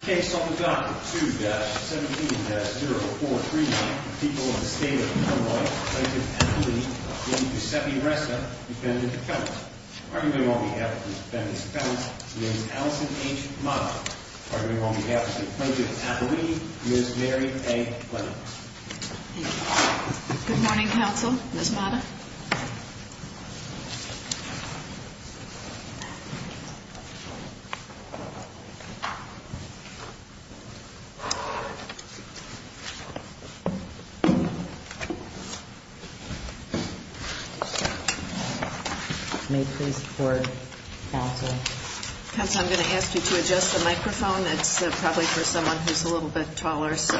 case on the dot two dash 17 dash 043 people in the state of Illinois. Thank you. You said you rest up. Are you going on behalf of the defendants? Allison H. Are you going on behalf of the project? Miss Mary A. Good morning, Council. This matter. I'm going to ask you to adjust the microphone. That's probably for someone who's a little bit taller. So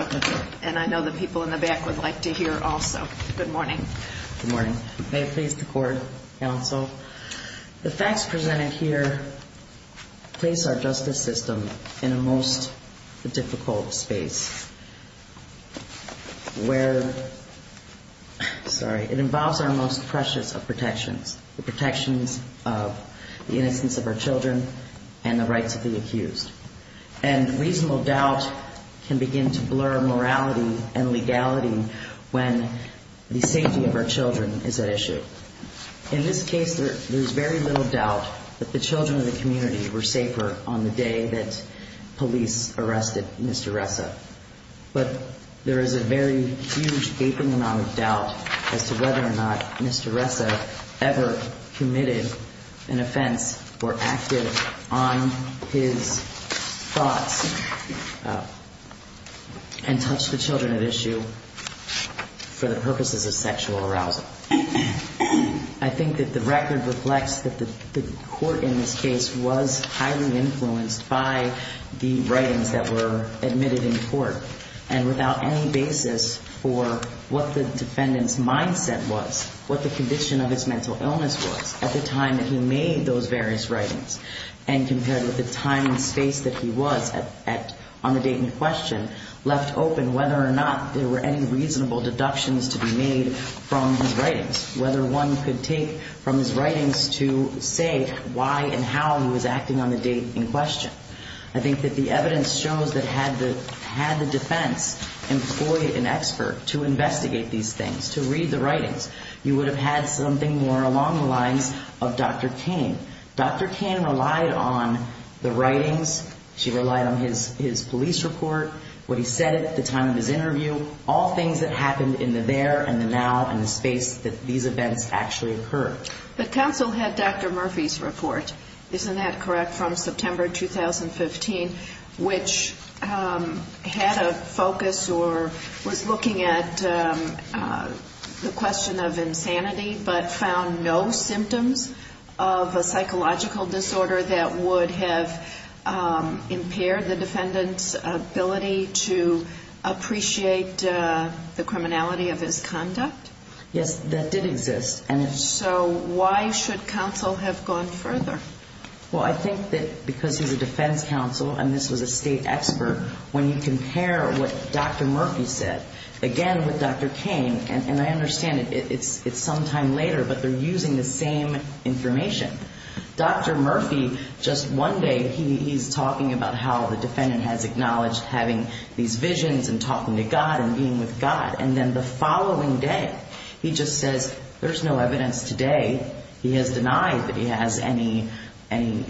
and I know the people in the back would like to hear also. Good morning. Good morning. May it please the court Council the facts presented here. Place our justice system in a most difficult space. Where? Sorry, it involves our most precious of protections the protections of the innocence of our children and the rights of the accused and reasonable doubt can begin to blur morality and legality when the safety of our children is at issue. In this case, there's very little doubt that the children of the community were safer on the day that police arrested. Mr. Ressa, but there is a very huge gaping amount of doubt as to whether or not Mr. Ressa ever committed an offense or active on his thoughts and touch the children at issue for the purposes of sexual arousal. I think that the record reflects that the court in this case was highly influenced by the writings that were admitted in court and without any basis for what the defendants mindset was what the condition of his mental illness was at the time that he made those various writings and compared with the time and space that he was at on the date in question left open whether or not there were any reasonable deductions to be made from his writings whether one could take from his writings to say why and how he was acting on the date in question. I think that the evidence shows that had the had the defense employee an expert to investigate these things to read the writings you would have had something more along the lines of Dr. Kane. Dr. Kane relied on the writings. She relied on his his police report what he said at the time of his interview all things that happened in the there and the now and the space that these events actually occur. The council had Dr. Murphy's report. Isn't that correct from September 2015 which had a focus or was looking at the question of insanity but found no symptoms of a psychological disorder that would have impaired the defendant's ability to appreciate the criminality of his conduct? Yes that did exist. And so why should counsel have gone further? Well, I think that because he's a defense counsel and this was a state expert when you compare what Dr. Murphy said again with Dr. Kane and I understand it's it's sometime later, but they're using the same information. Dr. Murphy just one day. He's talking about how the defendant has acknowledged having these visions and talking to God and being with God and then the following day. He just says there's no evidence today. He has denied that he has any any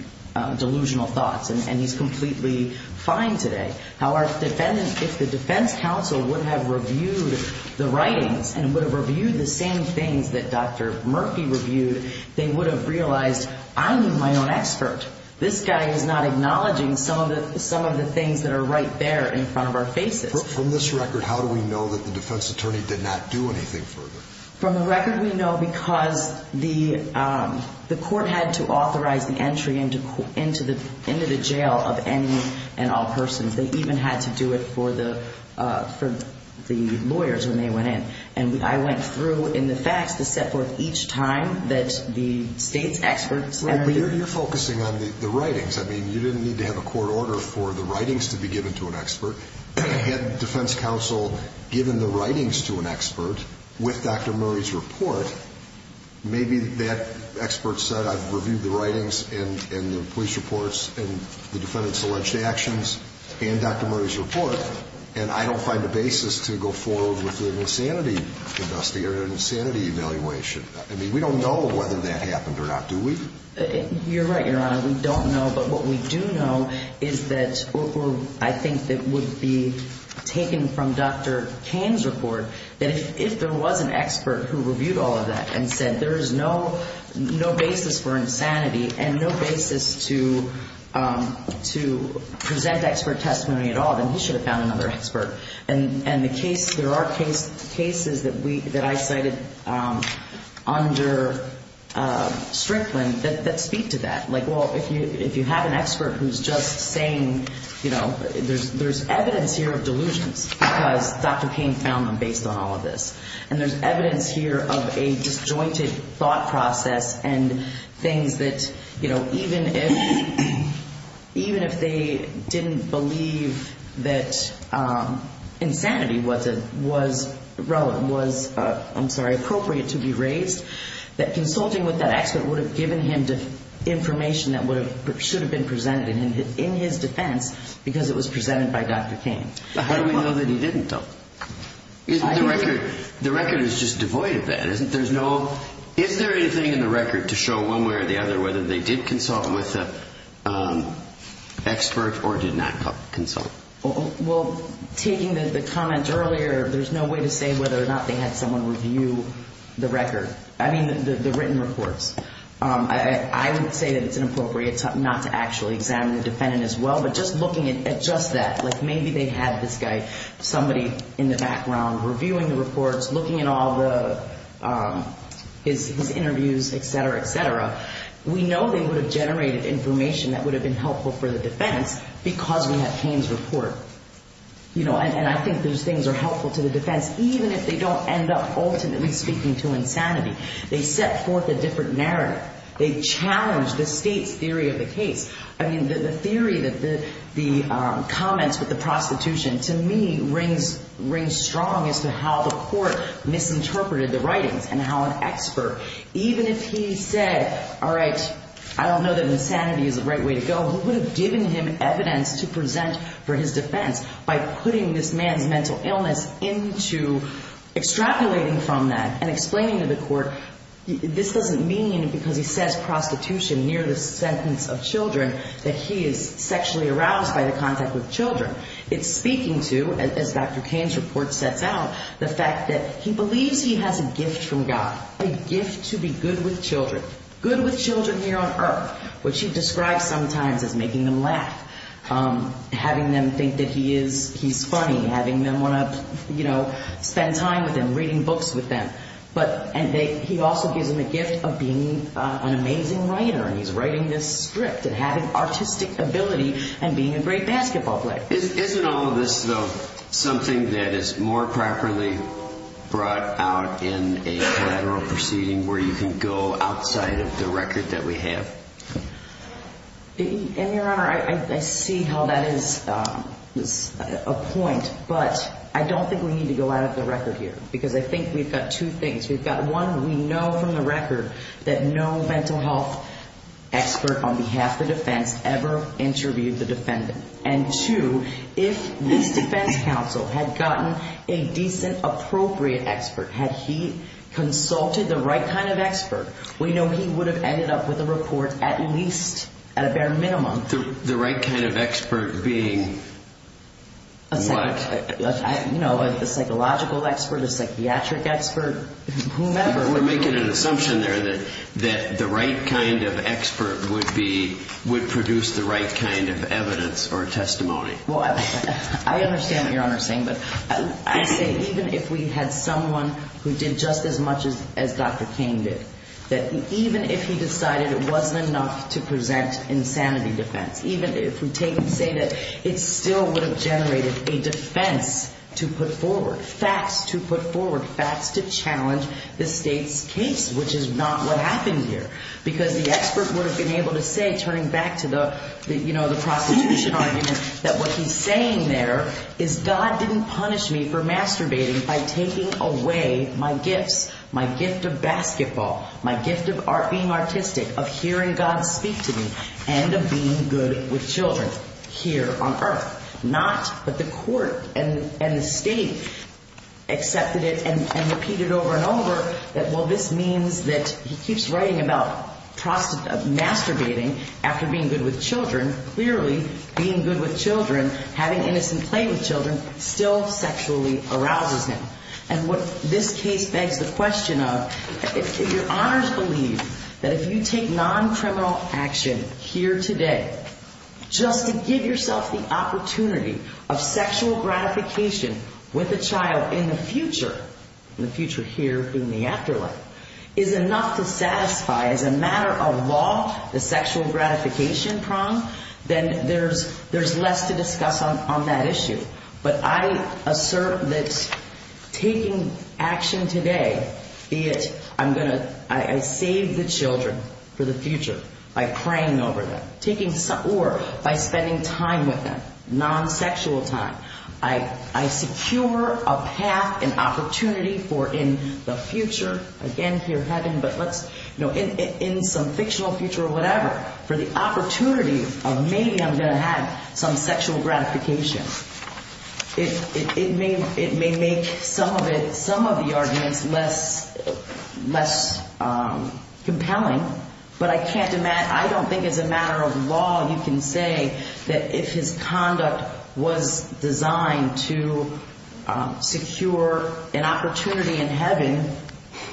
delusional thoughts and he's completely fine today. How are defendants if the defense counsel would have reviewed the writings and would have reviewed the same things that Dr. Murphy reviewed they would have realized I need my own expert. This guy is not acknowledging some of the some of the things that are right there in front of our faces from this record. How do we know that the defense attorney did not do anything further from the record? We know because the the court had to authorize the entry into court into the into the jail of any and all persons. They even had to do it for the for the lawyers when they went and I went through in the facts to set forth each time that the state's experts. Well, you're focusing on the writings. I mean, you didn't need to have a court order for the writings to be given to an expert head defense counsel given the writings to an expert with Dr. Murray's report. Maybe that expert said I've reviewed the writings and the police reports and the defendant's alleged actions and Dr. Murray's report and I don't find a basis to go forward with an insanity investigator insanity evaluation. I mean, we don't know whether that happened or not. Do we? You're right. Your honor. We don't know. But what we do know is that I think that would be taken from Dr. Kane's report that if there was an expert who reviewed all of that and said there is no no basis for insanity and no basis to to present expert testimony at all, then he should have found another expert and and the case. There are cases that we that I cited under Strickland that speak to that. Like, well, if you if you have an expert who's just saying, you know, there's there's evidence here of delusions because Dr. Kane found them based on all of this and there's evidence here of a disjointed thought process and things that you know, even if even if they didn't believe that insanity wasn't was relevant was I'm sorry appropriate to be raised that consulting with that expert would have given him to information that would have should have been presented in his defense because it was presented by Dr. Kane. How do we know that he didn't though? Isn't the record the record is just devoid of that isn't there's no is there anything in the record to show one way or the other whether they did consult with the expert or did not consult well taking the comments earlier. There's no way to say whether or not they had someone review the record. I mean the written reports. I would say that it's inappropriate not to actually examine the defendant as well. But just looking at just that like maybe they had this guy somebody in the background reviewing the reports looking at all the his interviews Etc. Etc. We know they would have generated information that would have been helpful for the defense because we have Kane's report, you know, and I think those things are helpful to the defense even if they don't end up ultimately speaking to insanity. They set forth a different narrative. They challenge the state's theory of the case. I mean the theory that the the comments with the prostitution to me rings ring strong as to how the court misinterpreted the writings and how an expert even if he said, all right, I don't know that insanity is the right way to go who would have given him evidence to present for his defense by putting this man's mental illness into extrapolating from that and explaining to the court. This doesn't mean because he says prostitution near the sentence of children that he is sexually aroused by the contact with children. It's speaking to as Dr. Kane's report sets out the fact that he believes he has a gift from God a gift to be good with children good with children here on Earth, which he describes sometimes as making them laugh having them think that he is he's funny having them want to you know, spend time with him reading books with them, but and they he also gives him a gift of being an amazing writer and he's writing this script and having artistic ability and being a great basketball player. Isn't all of this though something that is more properly brought out in a lateral proceeding where you can go outside of the record that we have? And your honor, I see how that is a point, but I don't think we need to go out of the record here because I think we've got two things. We've got one. We know from the record that no mental health expert on behalf of the defense ever interviewed the defendant and to if this defense counsel had gotten a decent appropriate expert had he consulted the right kind of expert. We know he would have ended up with a report at least at a bare minimum through the right kind of expert being a psychological expert a psychiatric expert. Whomever we're making an assumption there that that the right kind of expert would be would produce the right kind of evidence or testimony. Well, I understand your honor saying but I say even if we had someone who did just as much as Dr. Kane did that even if he decided it wasn't enough to present insanity defense, even if we take and say that it still would have generated a defense to put forward facts to put forward facts to challenge the state's case, which is not what happened here because the expert would have been able to say turning back to the you know, the prostitution argument that what he's saying there is God didn't punish me for masturbating by taking away my gifts, my gift of basketball, my gift of art being artistic of hearing God speak to me and of being good with children here on earth not but the court and the state accepted it and repeated it over and over that well, this means that he keeps writing about masturbating after being good with children clearly being good with children having innocent play with children still sexually arouses him and what this case begs the question of if your honors believe that if you take non-criminal action here today just to give yourself the opportunity of sexual gratification with a child in the future in the future here in the afterlife is enough to satisfy as a matter of law the sexual gratification prong then there's there's less to discuss on that issue, but I assert that taking action today be it I'm going to I save the children for the future by praying over them taking some or by spending time with them non-sexual time I secure a path and opportunity for in the future again here having but let's know in some fictional future or whatever for the opportunity of maybe I'm going to have some sexual gratification it may it may make some of it some of the arguments less less compelling but I can't demand I don't think it's a matter of law you can say that if his conduct was designed to secure an opportunity in heaven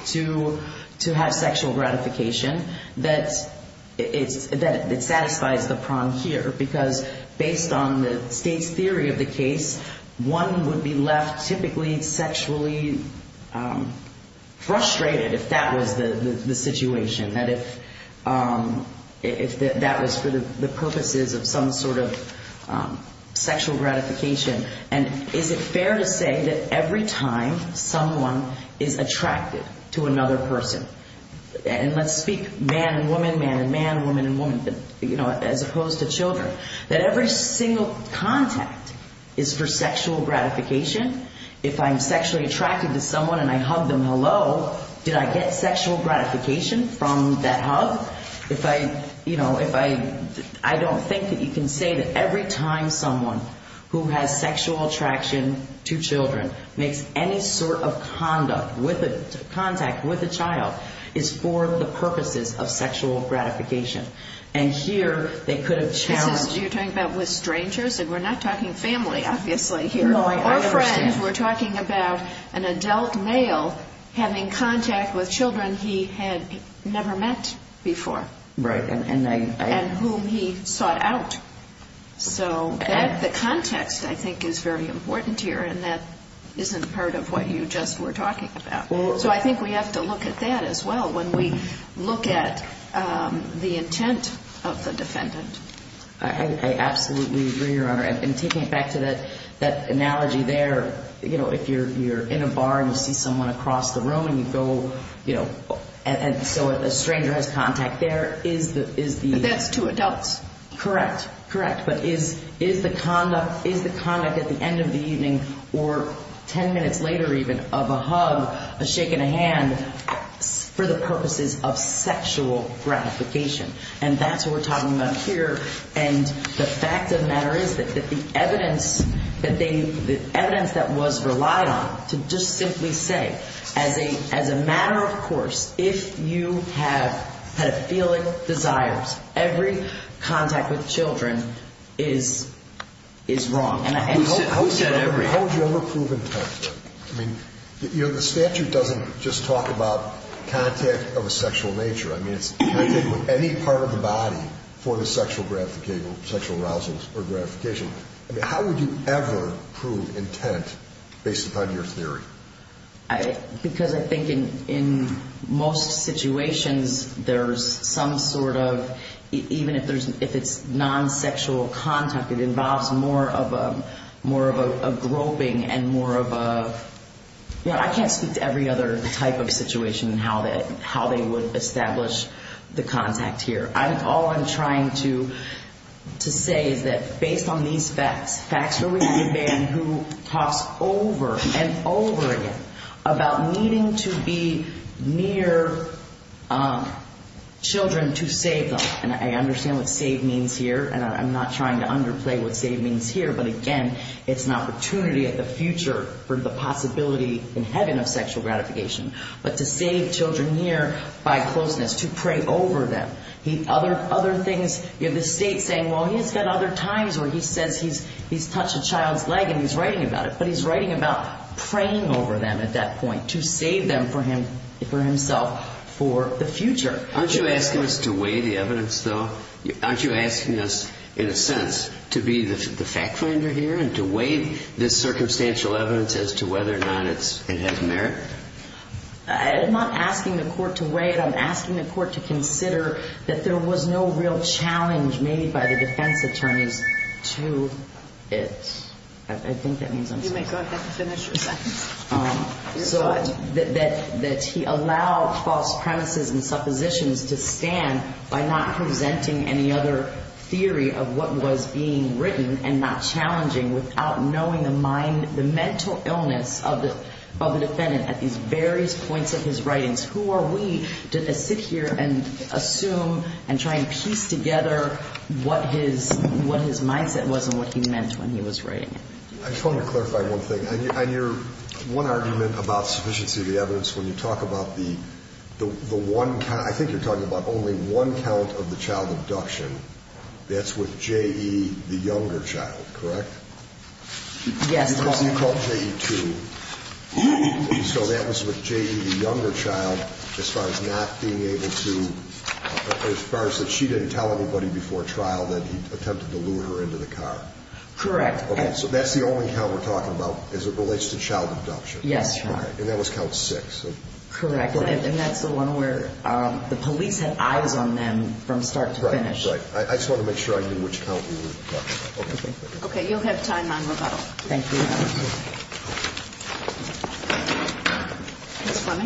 to to have sexual gratification that it's that it satisfies the prong here because based on the state's theory of the case one would be left typically sexually frustrated if that was the situation that if that was for the purposes of some sort of sexual gratification and is it fair to say that every time someone is attracted to another person and let's speak man and woman man and man woman and woman as opposed to children that every single contact is for sexual gratification if I'm sexually gratification from that hug if I you know if I I don't think that you can say that every time someone who has sexual attraction to children makes any sort of conduct with a contact with a child is for the purposes of sexual gratification and here they could have challenged you're talking about with strangers and we're not talking family obviously here or friends were talking about an he had never met before and whom he sought out so that the context I think is very important here and that isn't part of what you just were talking about so I think we have to look at that as well when we look at the intent of the defendant I absolutely agree your honor and taking it back to that that analogy there you know if you're you're in a bar and you see someone across the and so a stranger has contact there is that is the best to adults correct correct but is is the conduct is the conduct at the end of the evening or 10 minutes later even of a hug a shake in a hand for the purposes of sexual gratification and that's what we're talking about here and the fact of the matter is that the evidence that they the evidence that was relied on to just simply say as a as a matter of course if you have had a feeling desires every contact with children is is wrong and I said every how would you ever prove intent I mean you know the statute doesn't just talk about contact of a sexual nature I mean it's any part of the body for the sexual graphical sexual arousals or gratification I mean how would you prove intent based upon your theory I because I think in in most situations there's some sort of even if there's if it's non-sexual contact it involves more of a more of a groping and more of a I can't speak to every other type of situation and how that how they would establish the contact here I'm all I'm trying to to say is that based on these facts facts who talks over and over again about needing to be near children to save them and I understand what save means here and I'm not trying to underplay what save means here but again it's an opportunity at the future for the possibility in heaven of sexual gratification but to save children here by closeness to pray over them he other other things in the state saying well he's got other times where he says he's he's touched a child's leg and he's writing about it but he's writing about praying over them at that point to save them for him for himself for the future aren't you asking us to weigh the evidence though aren't you asking us in a sense to be the fact finder here and to wait this circumstantial evidence as to whether or not it's it has merit I'm not asking the court to wait I'm asking the court to consider that there was no real challenge made by the defense attorneys to it I think that means that he allowed false premises and suppositions to stand by not presenting any other theory of what was being written and not challenging without knowing the mind the mental illness of the defendant at these various points of his writings who are we to sit here and assume and try and piece together what his what his mindset was and what he meant when he was writing it I just want to clarify one thing on your one argument about sufficiency of the evidence when you talk about the the one time I think you're talking about only one count of the child abduction that's with J.E. the younger child correct yes so that was with J.E. the younger child as far as not being able to as far as that she didn't tell anybody before trial that he attempted to lure her into the car correct okay so that's the only count we're talking about as it relates to child abduction yes right and that was count six correct and that's the one where the police had eyes on them from start to finish right I just want to make sure I knew which okay you'll have time thank you good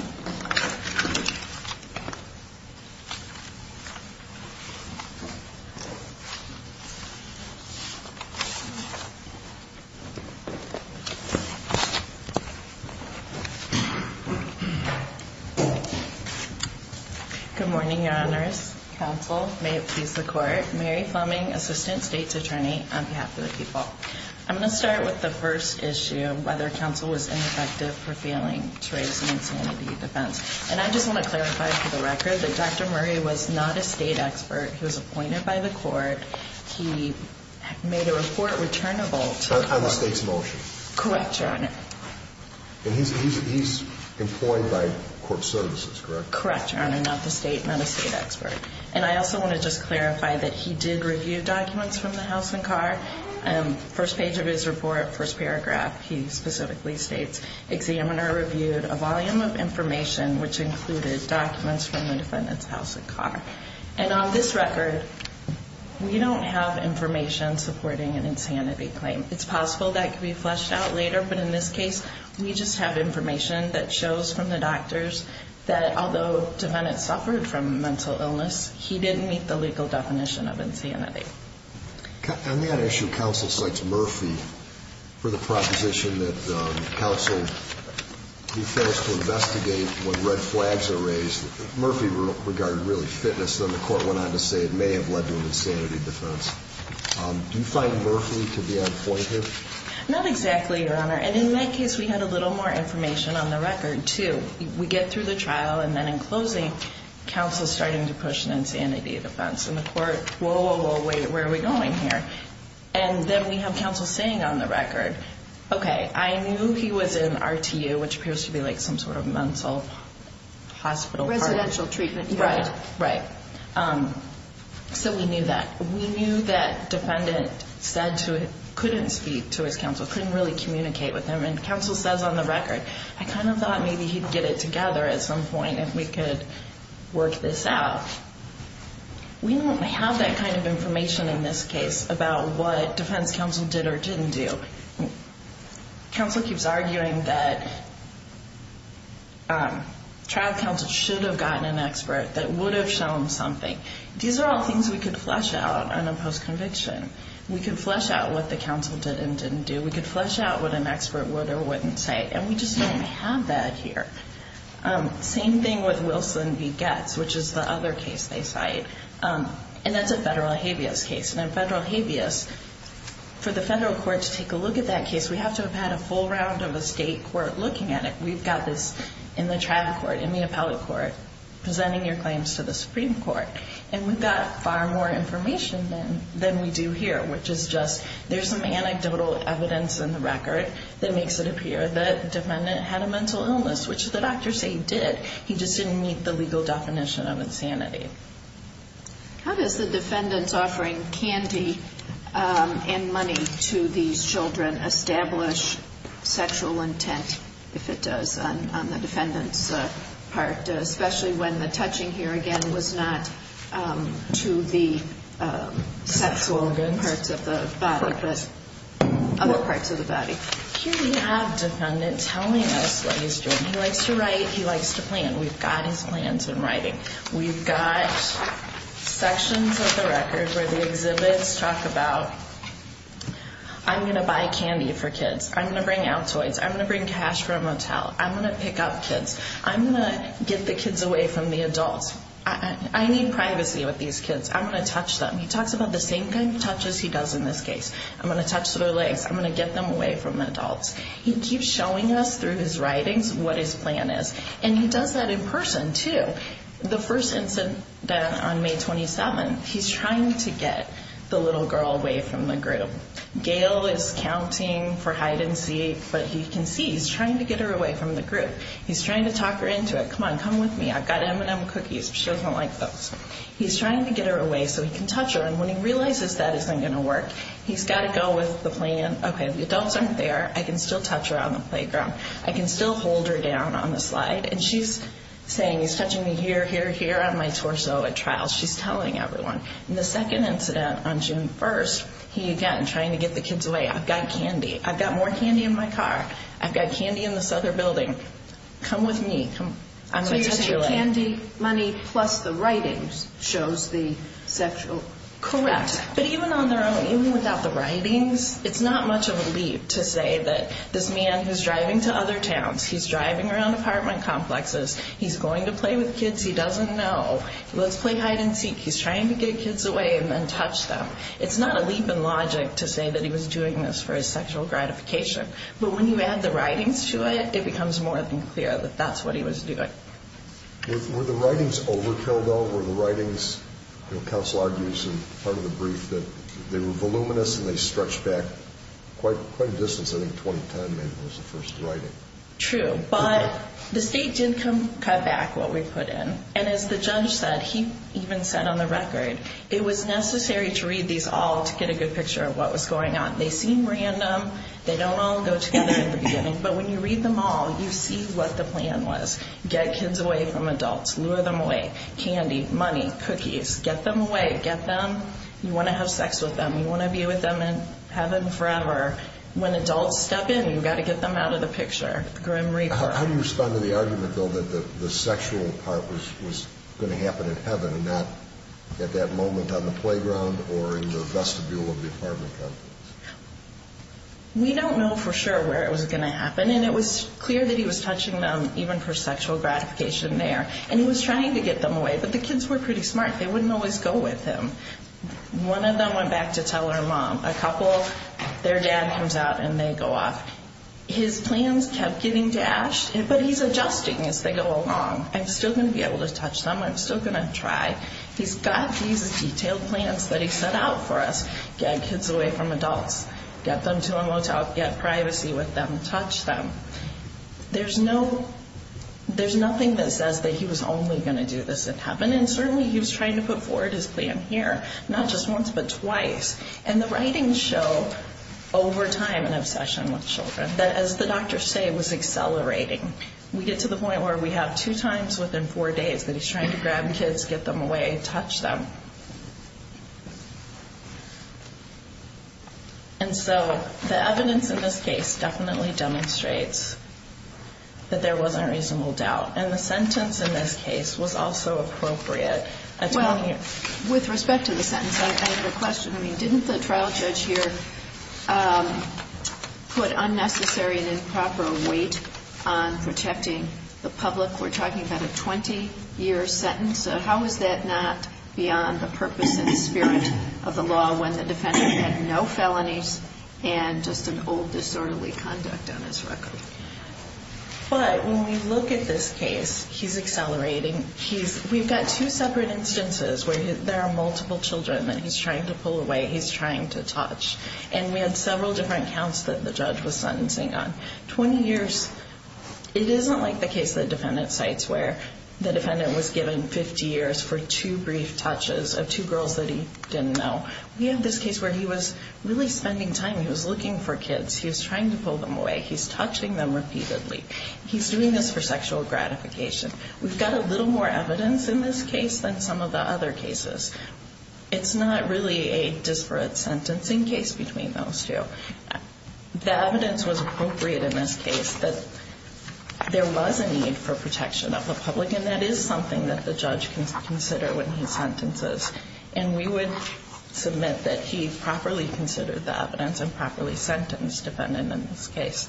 morning your honors counsel may it please the court Mary Fleming assistant state's attorney on behalf of the people I'm gonna start with the first issue whether counsel was ineffective for failing to raise an and I just want to clarify for the record that dr. Murray was not a state expert he was appointed by the court he made a report returnable on the state's motion correct your honor and he's employed by court services correct correct your honor not the state not a state expert and I also want to just clarify that he did review documents from the house and car and first page of his report first paragraph he specifically states examiner reviewed a of information which included documents from the defendant's house a car and on this record we don't have information supporting an insanity claim it's possible that could be fleshed out later but in this case we just have information that shows from the doctors that although defendants suffered from mental illness he didn't meet the legal definition of insanity on that issue Murphy for the proposition that the council first to investigate what red flags are raised Murphy regard really fitness than the court went on to say it may have led to an insanity defense do you find Murphy to be on point here not exactly your honor and in that case we had a little more information on the record to we get through the trial and then in closing counsel starting to push saying on the record okay I knew he was in our to you which appears to be like some sort of mental hospital residential treatment right right so we knew that we knew that defendant said to couldn't speak to his counsel couldn't really communicate with him and counsel says on the record I kind of thought maybe he'd get it together at some point if we could work this out we don't have that kind of information in this case about what defense counsel did or didn't do counsel keeps arguing that trial counsel should have gotten an expert that would have shown something these are all things we could flush out on a post conviction we can flush out what the council did and didn't do we could flush out what an expert would or wouldn't say and we just don't have that here same thing with Wilson v. Getz which is the other case they cite and that's a federal habeas case and a federal habeas for the federal court to take a look at that case we have to have had a full round of a state court looking at it we've got this in the tribal court in the appellate court presenting your claims to the Supreme Court and we've got far more information than we do here which is just there's some anecdotal evidence in the record that makes it just didn't meet the legal definition of insanity how does the defendants offering candy and money to these children establish sexual intent if it does on the defendants part especially when the touching here again was not to the sexual good parts of the body here we have defendant telling us what he's doing he likes to write he likes to plan we've got his plans in writing we've got sections of the record where the exhibits talk about I'm going to buy candy for kids I'm going to bring out toys I'm going to bring cash for a motel I'm going to pick up kids I'm going to get the kids away from the adults he keeps showing us through his writings what his plan is and he does that in person to the first incident on May 27 he's trying to get the little girl away from the group Gail is counting for hide-and-seek but he can see he's trying to get her away from the group he's trying to talk her into it come on come with me I've got M&M cookies she doesn't like those he's trying to get her away so he can touch her and when he realizes that isn't going to work he's got to go with the plan okay the adults aren't there I can still touch her on the playground I can still hold her down on the slide and she's saying he's touching me here here here on my torso at trial she's telling everyone in the second incident on June 1st he again trying to get the kids away I've got candy I've got more candy in my car I've got candy in this other come with me I'm going to candy money plus the writings shows the sexual correct but even on their own even without the writings it's not much of a leap to say that this man who's driving to other towns he's driving around apartment complexes he's going to play with kids he doesn't know let's play hide-and-seek he's trying to get kids away and then touch them it's not a leap in logic to say that he was doing this for his sexual gratification but when you add the writings to it it becomes more than clear that that's what he was doing were the writings overkill though were the writings council argues and part of the brief that they were voluminous and they stretched back quite quite a distance I think 20 time maybe was the first writing true but the state didn't come cut back what we put in and as the judge said he even said on the record it was necessary to read these all to get a good picture of what was random they don't all go together in the beginning but when you read them all you see what the plan was get kids away from adults lure them away candy money cookies get them away get them you want to have sex with them you want to be with them and have them forever when adults step in you've got to get them out of the picture how do you respond to the argument though that the sexual part was going to happen in heaven and not at that moment on the playground or in the we don't know for sure where it was going to happen and it was clear that he was touching them even for sexual gratification there and he was trying to get them away but the kids were pretty smart they wouldn't always go with him one of them went back to tell her mom a couple their dad comes out and they go off his plans kept getting dashed it but he's adjusting as they go along I'm still going to be able to touch them I'm still going to try he's got these that he set out for us get kids away from adults get them to a motel get privacy with them touch them there's no there's nothing that says that he was only going to do this in heaven and certainly he was trying to put forward his plan here not just once but twice and the writing show over time and obsession with children that as the doctor say it was accelerating we get to the point where we have two times within four days that he's trying to grab kids get them away touch them and so the evidence in this case definitely demonstrates that there wasn't a reasonable doubt and the sentence in this case was also appropriate well with respect to the sentence I have a question I mean didn't the trial judge here put unnecessary and improper weight on protecting the public we're talking about a 20-year sentence how is that not beyond the purpose and spirit of the law when the defendant had no felonies and just an old disorderly conduct on his record but when we look at this case he's accelerating he's we've got two separate instances where there are multiple children that he's trying to pull away he's trying to touch and we had several different counts that the judge was sentencing on 20 years it isn't like the case that defendant sites where the defendant was given 50 years for two brief touches of two girls that he didn't know we have this case where he was really spending time he was looking for kids he was trying to pull them away he's touching them repeatedly he's doing this for sexual gratification we've got a little more evidence in this case than some of the other cases it's not really a disparate sentencing case between those two the evidence was appropriate in this case that there was a need for protection of the public and that is something that the judge can consider when he sentences and we would submit that he properly considered the evidence and properly sentenced defendant in this defense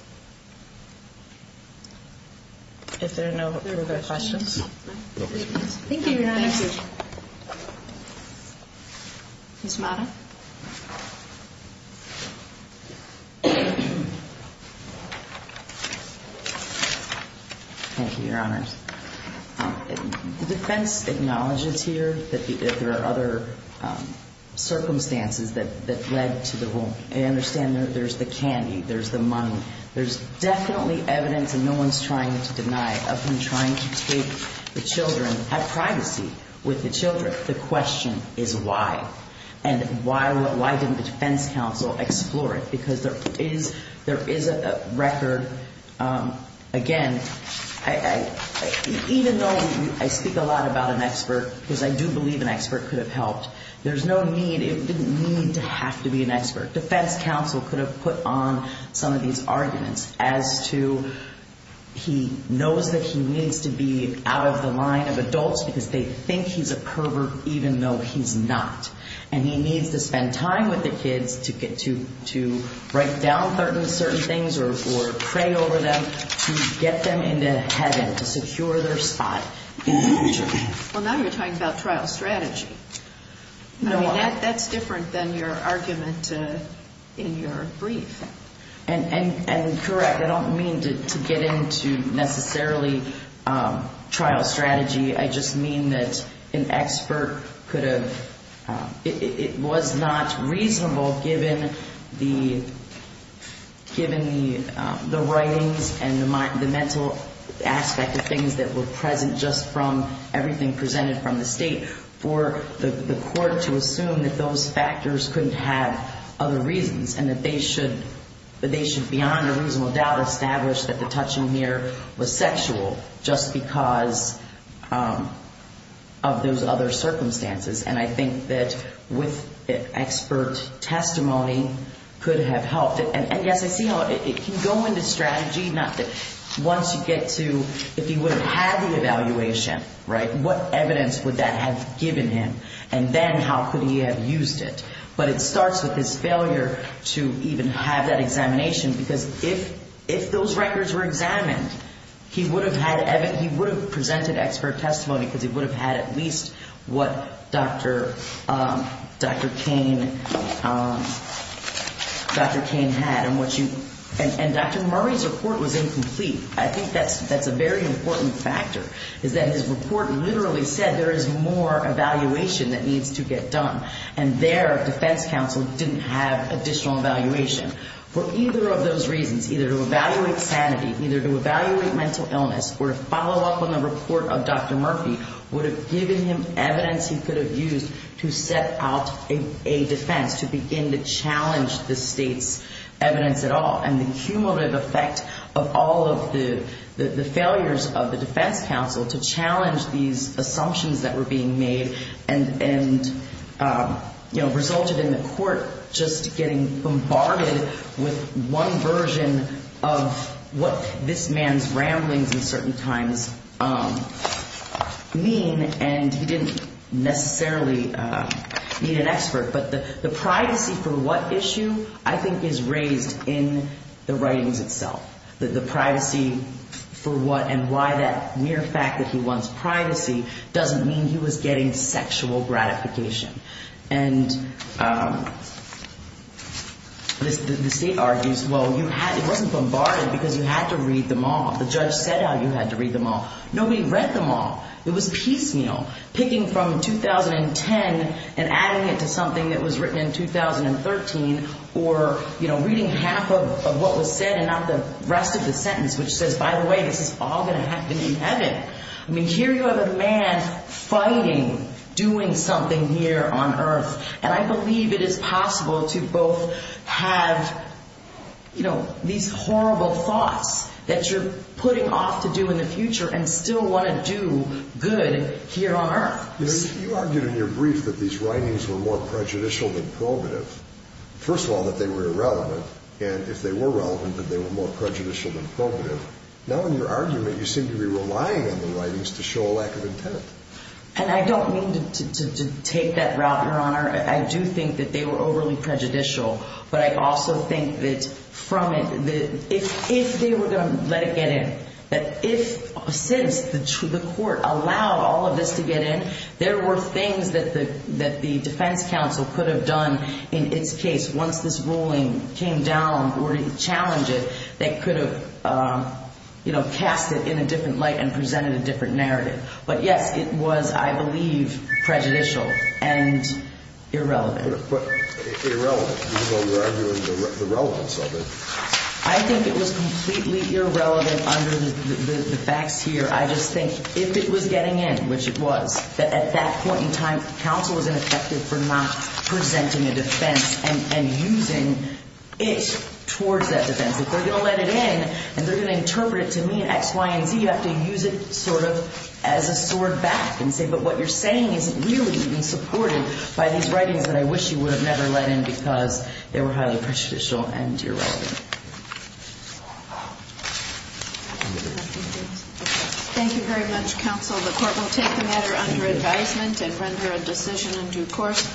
acknowledges here that there are other circumstances that that led to the whole I understand there's the candy there's the money there's definitely evidence and no one's trying to deny of him trying to take the children have with the children the question is why and why why didn't the defense counsel explore it because there is there is a record again I even though I speak a lot about an expert because I do believe an expert could have helped there's no need it didn't need to have to be an expert defense counsel could have put on some of these arguments as to he knows that he needs to be out of the line of adults because they think he's a pervert even though he's not and he needs to spend time with the kids to get to to write down certain certain things or or pray over them get them into heaven to secure their spot well now you're talking about trial strategy no that's different than your argument in your brief and correct I don't mean to get into necessarily trial strategy I just mean that an expert could have it was not reasonable given the given the the writings and the mind the mental aspect of things that were present just from everything presented from the state for the court to assume that those factors couldn't have other reasons and that they should but they should beyond a reasonable doubt established that the touching here was sexual just because of those other circumstances and I think that with expert testimony could have helped it and yes I see how it can go into strategy not that once you get to if he would have had the evaluation right what evidence would that have used it but it starts with his failure to even have that examination because if if those records were examined he would have had Evan he would have presented expert testimony because he would have had at least what dr. Dr. Kane Dr. Kane had and what you and dr. Murray's report was incomplete I think that's that's a very important factor is that his report literally said there is more evaluation that needs to get done and their defense counsel didn't have additional evaluation for either of those reasons either to evaluate sanity either to evaluate mental illness or follow up on the report of dr. Murphy would have given him evidence he could have used to set out a defense to begin to challenge the state's evidence at all and the cumulative effect of all of the failures of the defense counsel to challenge these assumptions that were being made and and you know resulted in the court just getting bombarded with one version of what this man's ramblings in certain times mean and he didn't necessarily need an expert but the the privacy for what issue I think is raised in the writings itself that the privacy for what and why that mere fact that he wants privacy doesn't mean he was getting sexual gratification and the state argues well you had it wasn't bombarded because you had to read them all the judge said how you had to read them all nobody read them all it was piecemeal picking from 2010 and adding it to something that was written in 2013 or you know reading half of what was said and not the rest of the sentence which says by the way this is all going to happen in heaven I mean here you have a man fighting doing something here on earth and I believe it is possible to both have you know these horrible thoughts that you're putting off to do in the future and still want to do good here on earth you argued in your brief that these writings were more prejudicial than prohibitive first of all that they were irrelevant and if they were relevant that they were more prejudicial than prohibitive now in your argument you seem to be relying on the writings to show a lack of intent and I don't mean to take that route your honor I do think that they were overly prejudicial but I also think that from it that if if they were going to let it get in that if since the to the court allowed all of this to get in there were things that the that the defense counsel could have done in its case once this ruling came down or to challenge it they could have you know cast it in a different light and presented a different narrative but yes it was I believe prejudicial and irrelevant I think it was completely irrelevant under the facts here I just think if it was getting in which it was that at that point in time counsel is ineffective for not presenting a defense and using it towards that defense if they're going to let it in and they're going to interpret it to me XY and Z you have to use it sort of as a sword back and say but what you're saying isn't really being supported by these writings that I wish you would have never let in because they were highly prejudicial and irrelevant thank you very much counsel the court will take the matter under advisement and render a decision in due course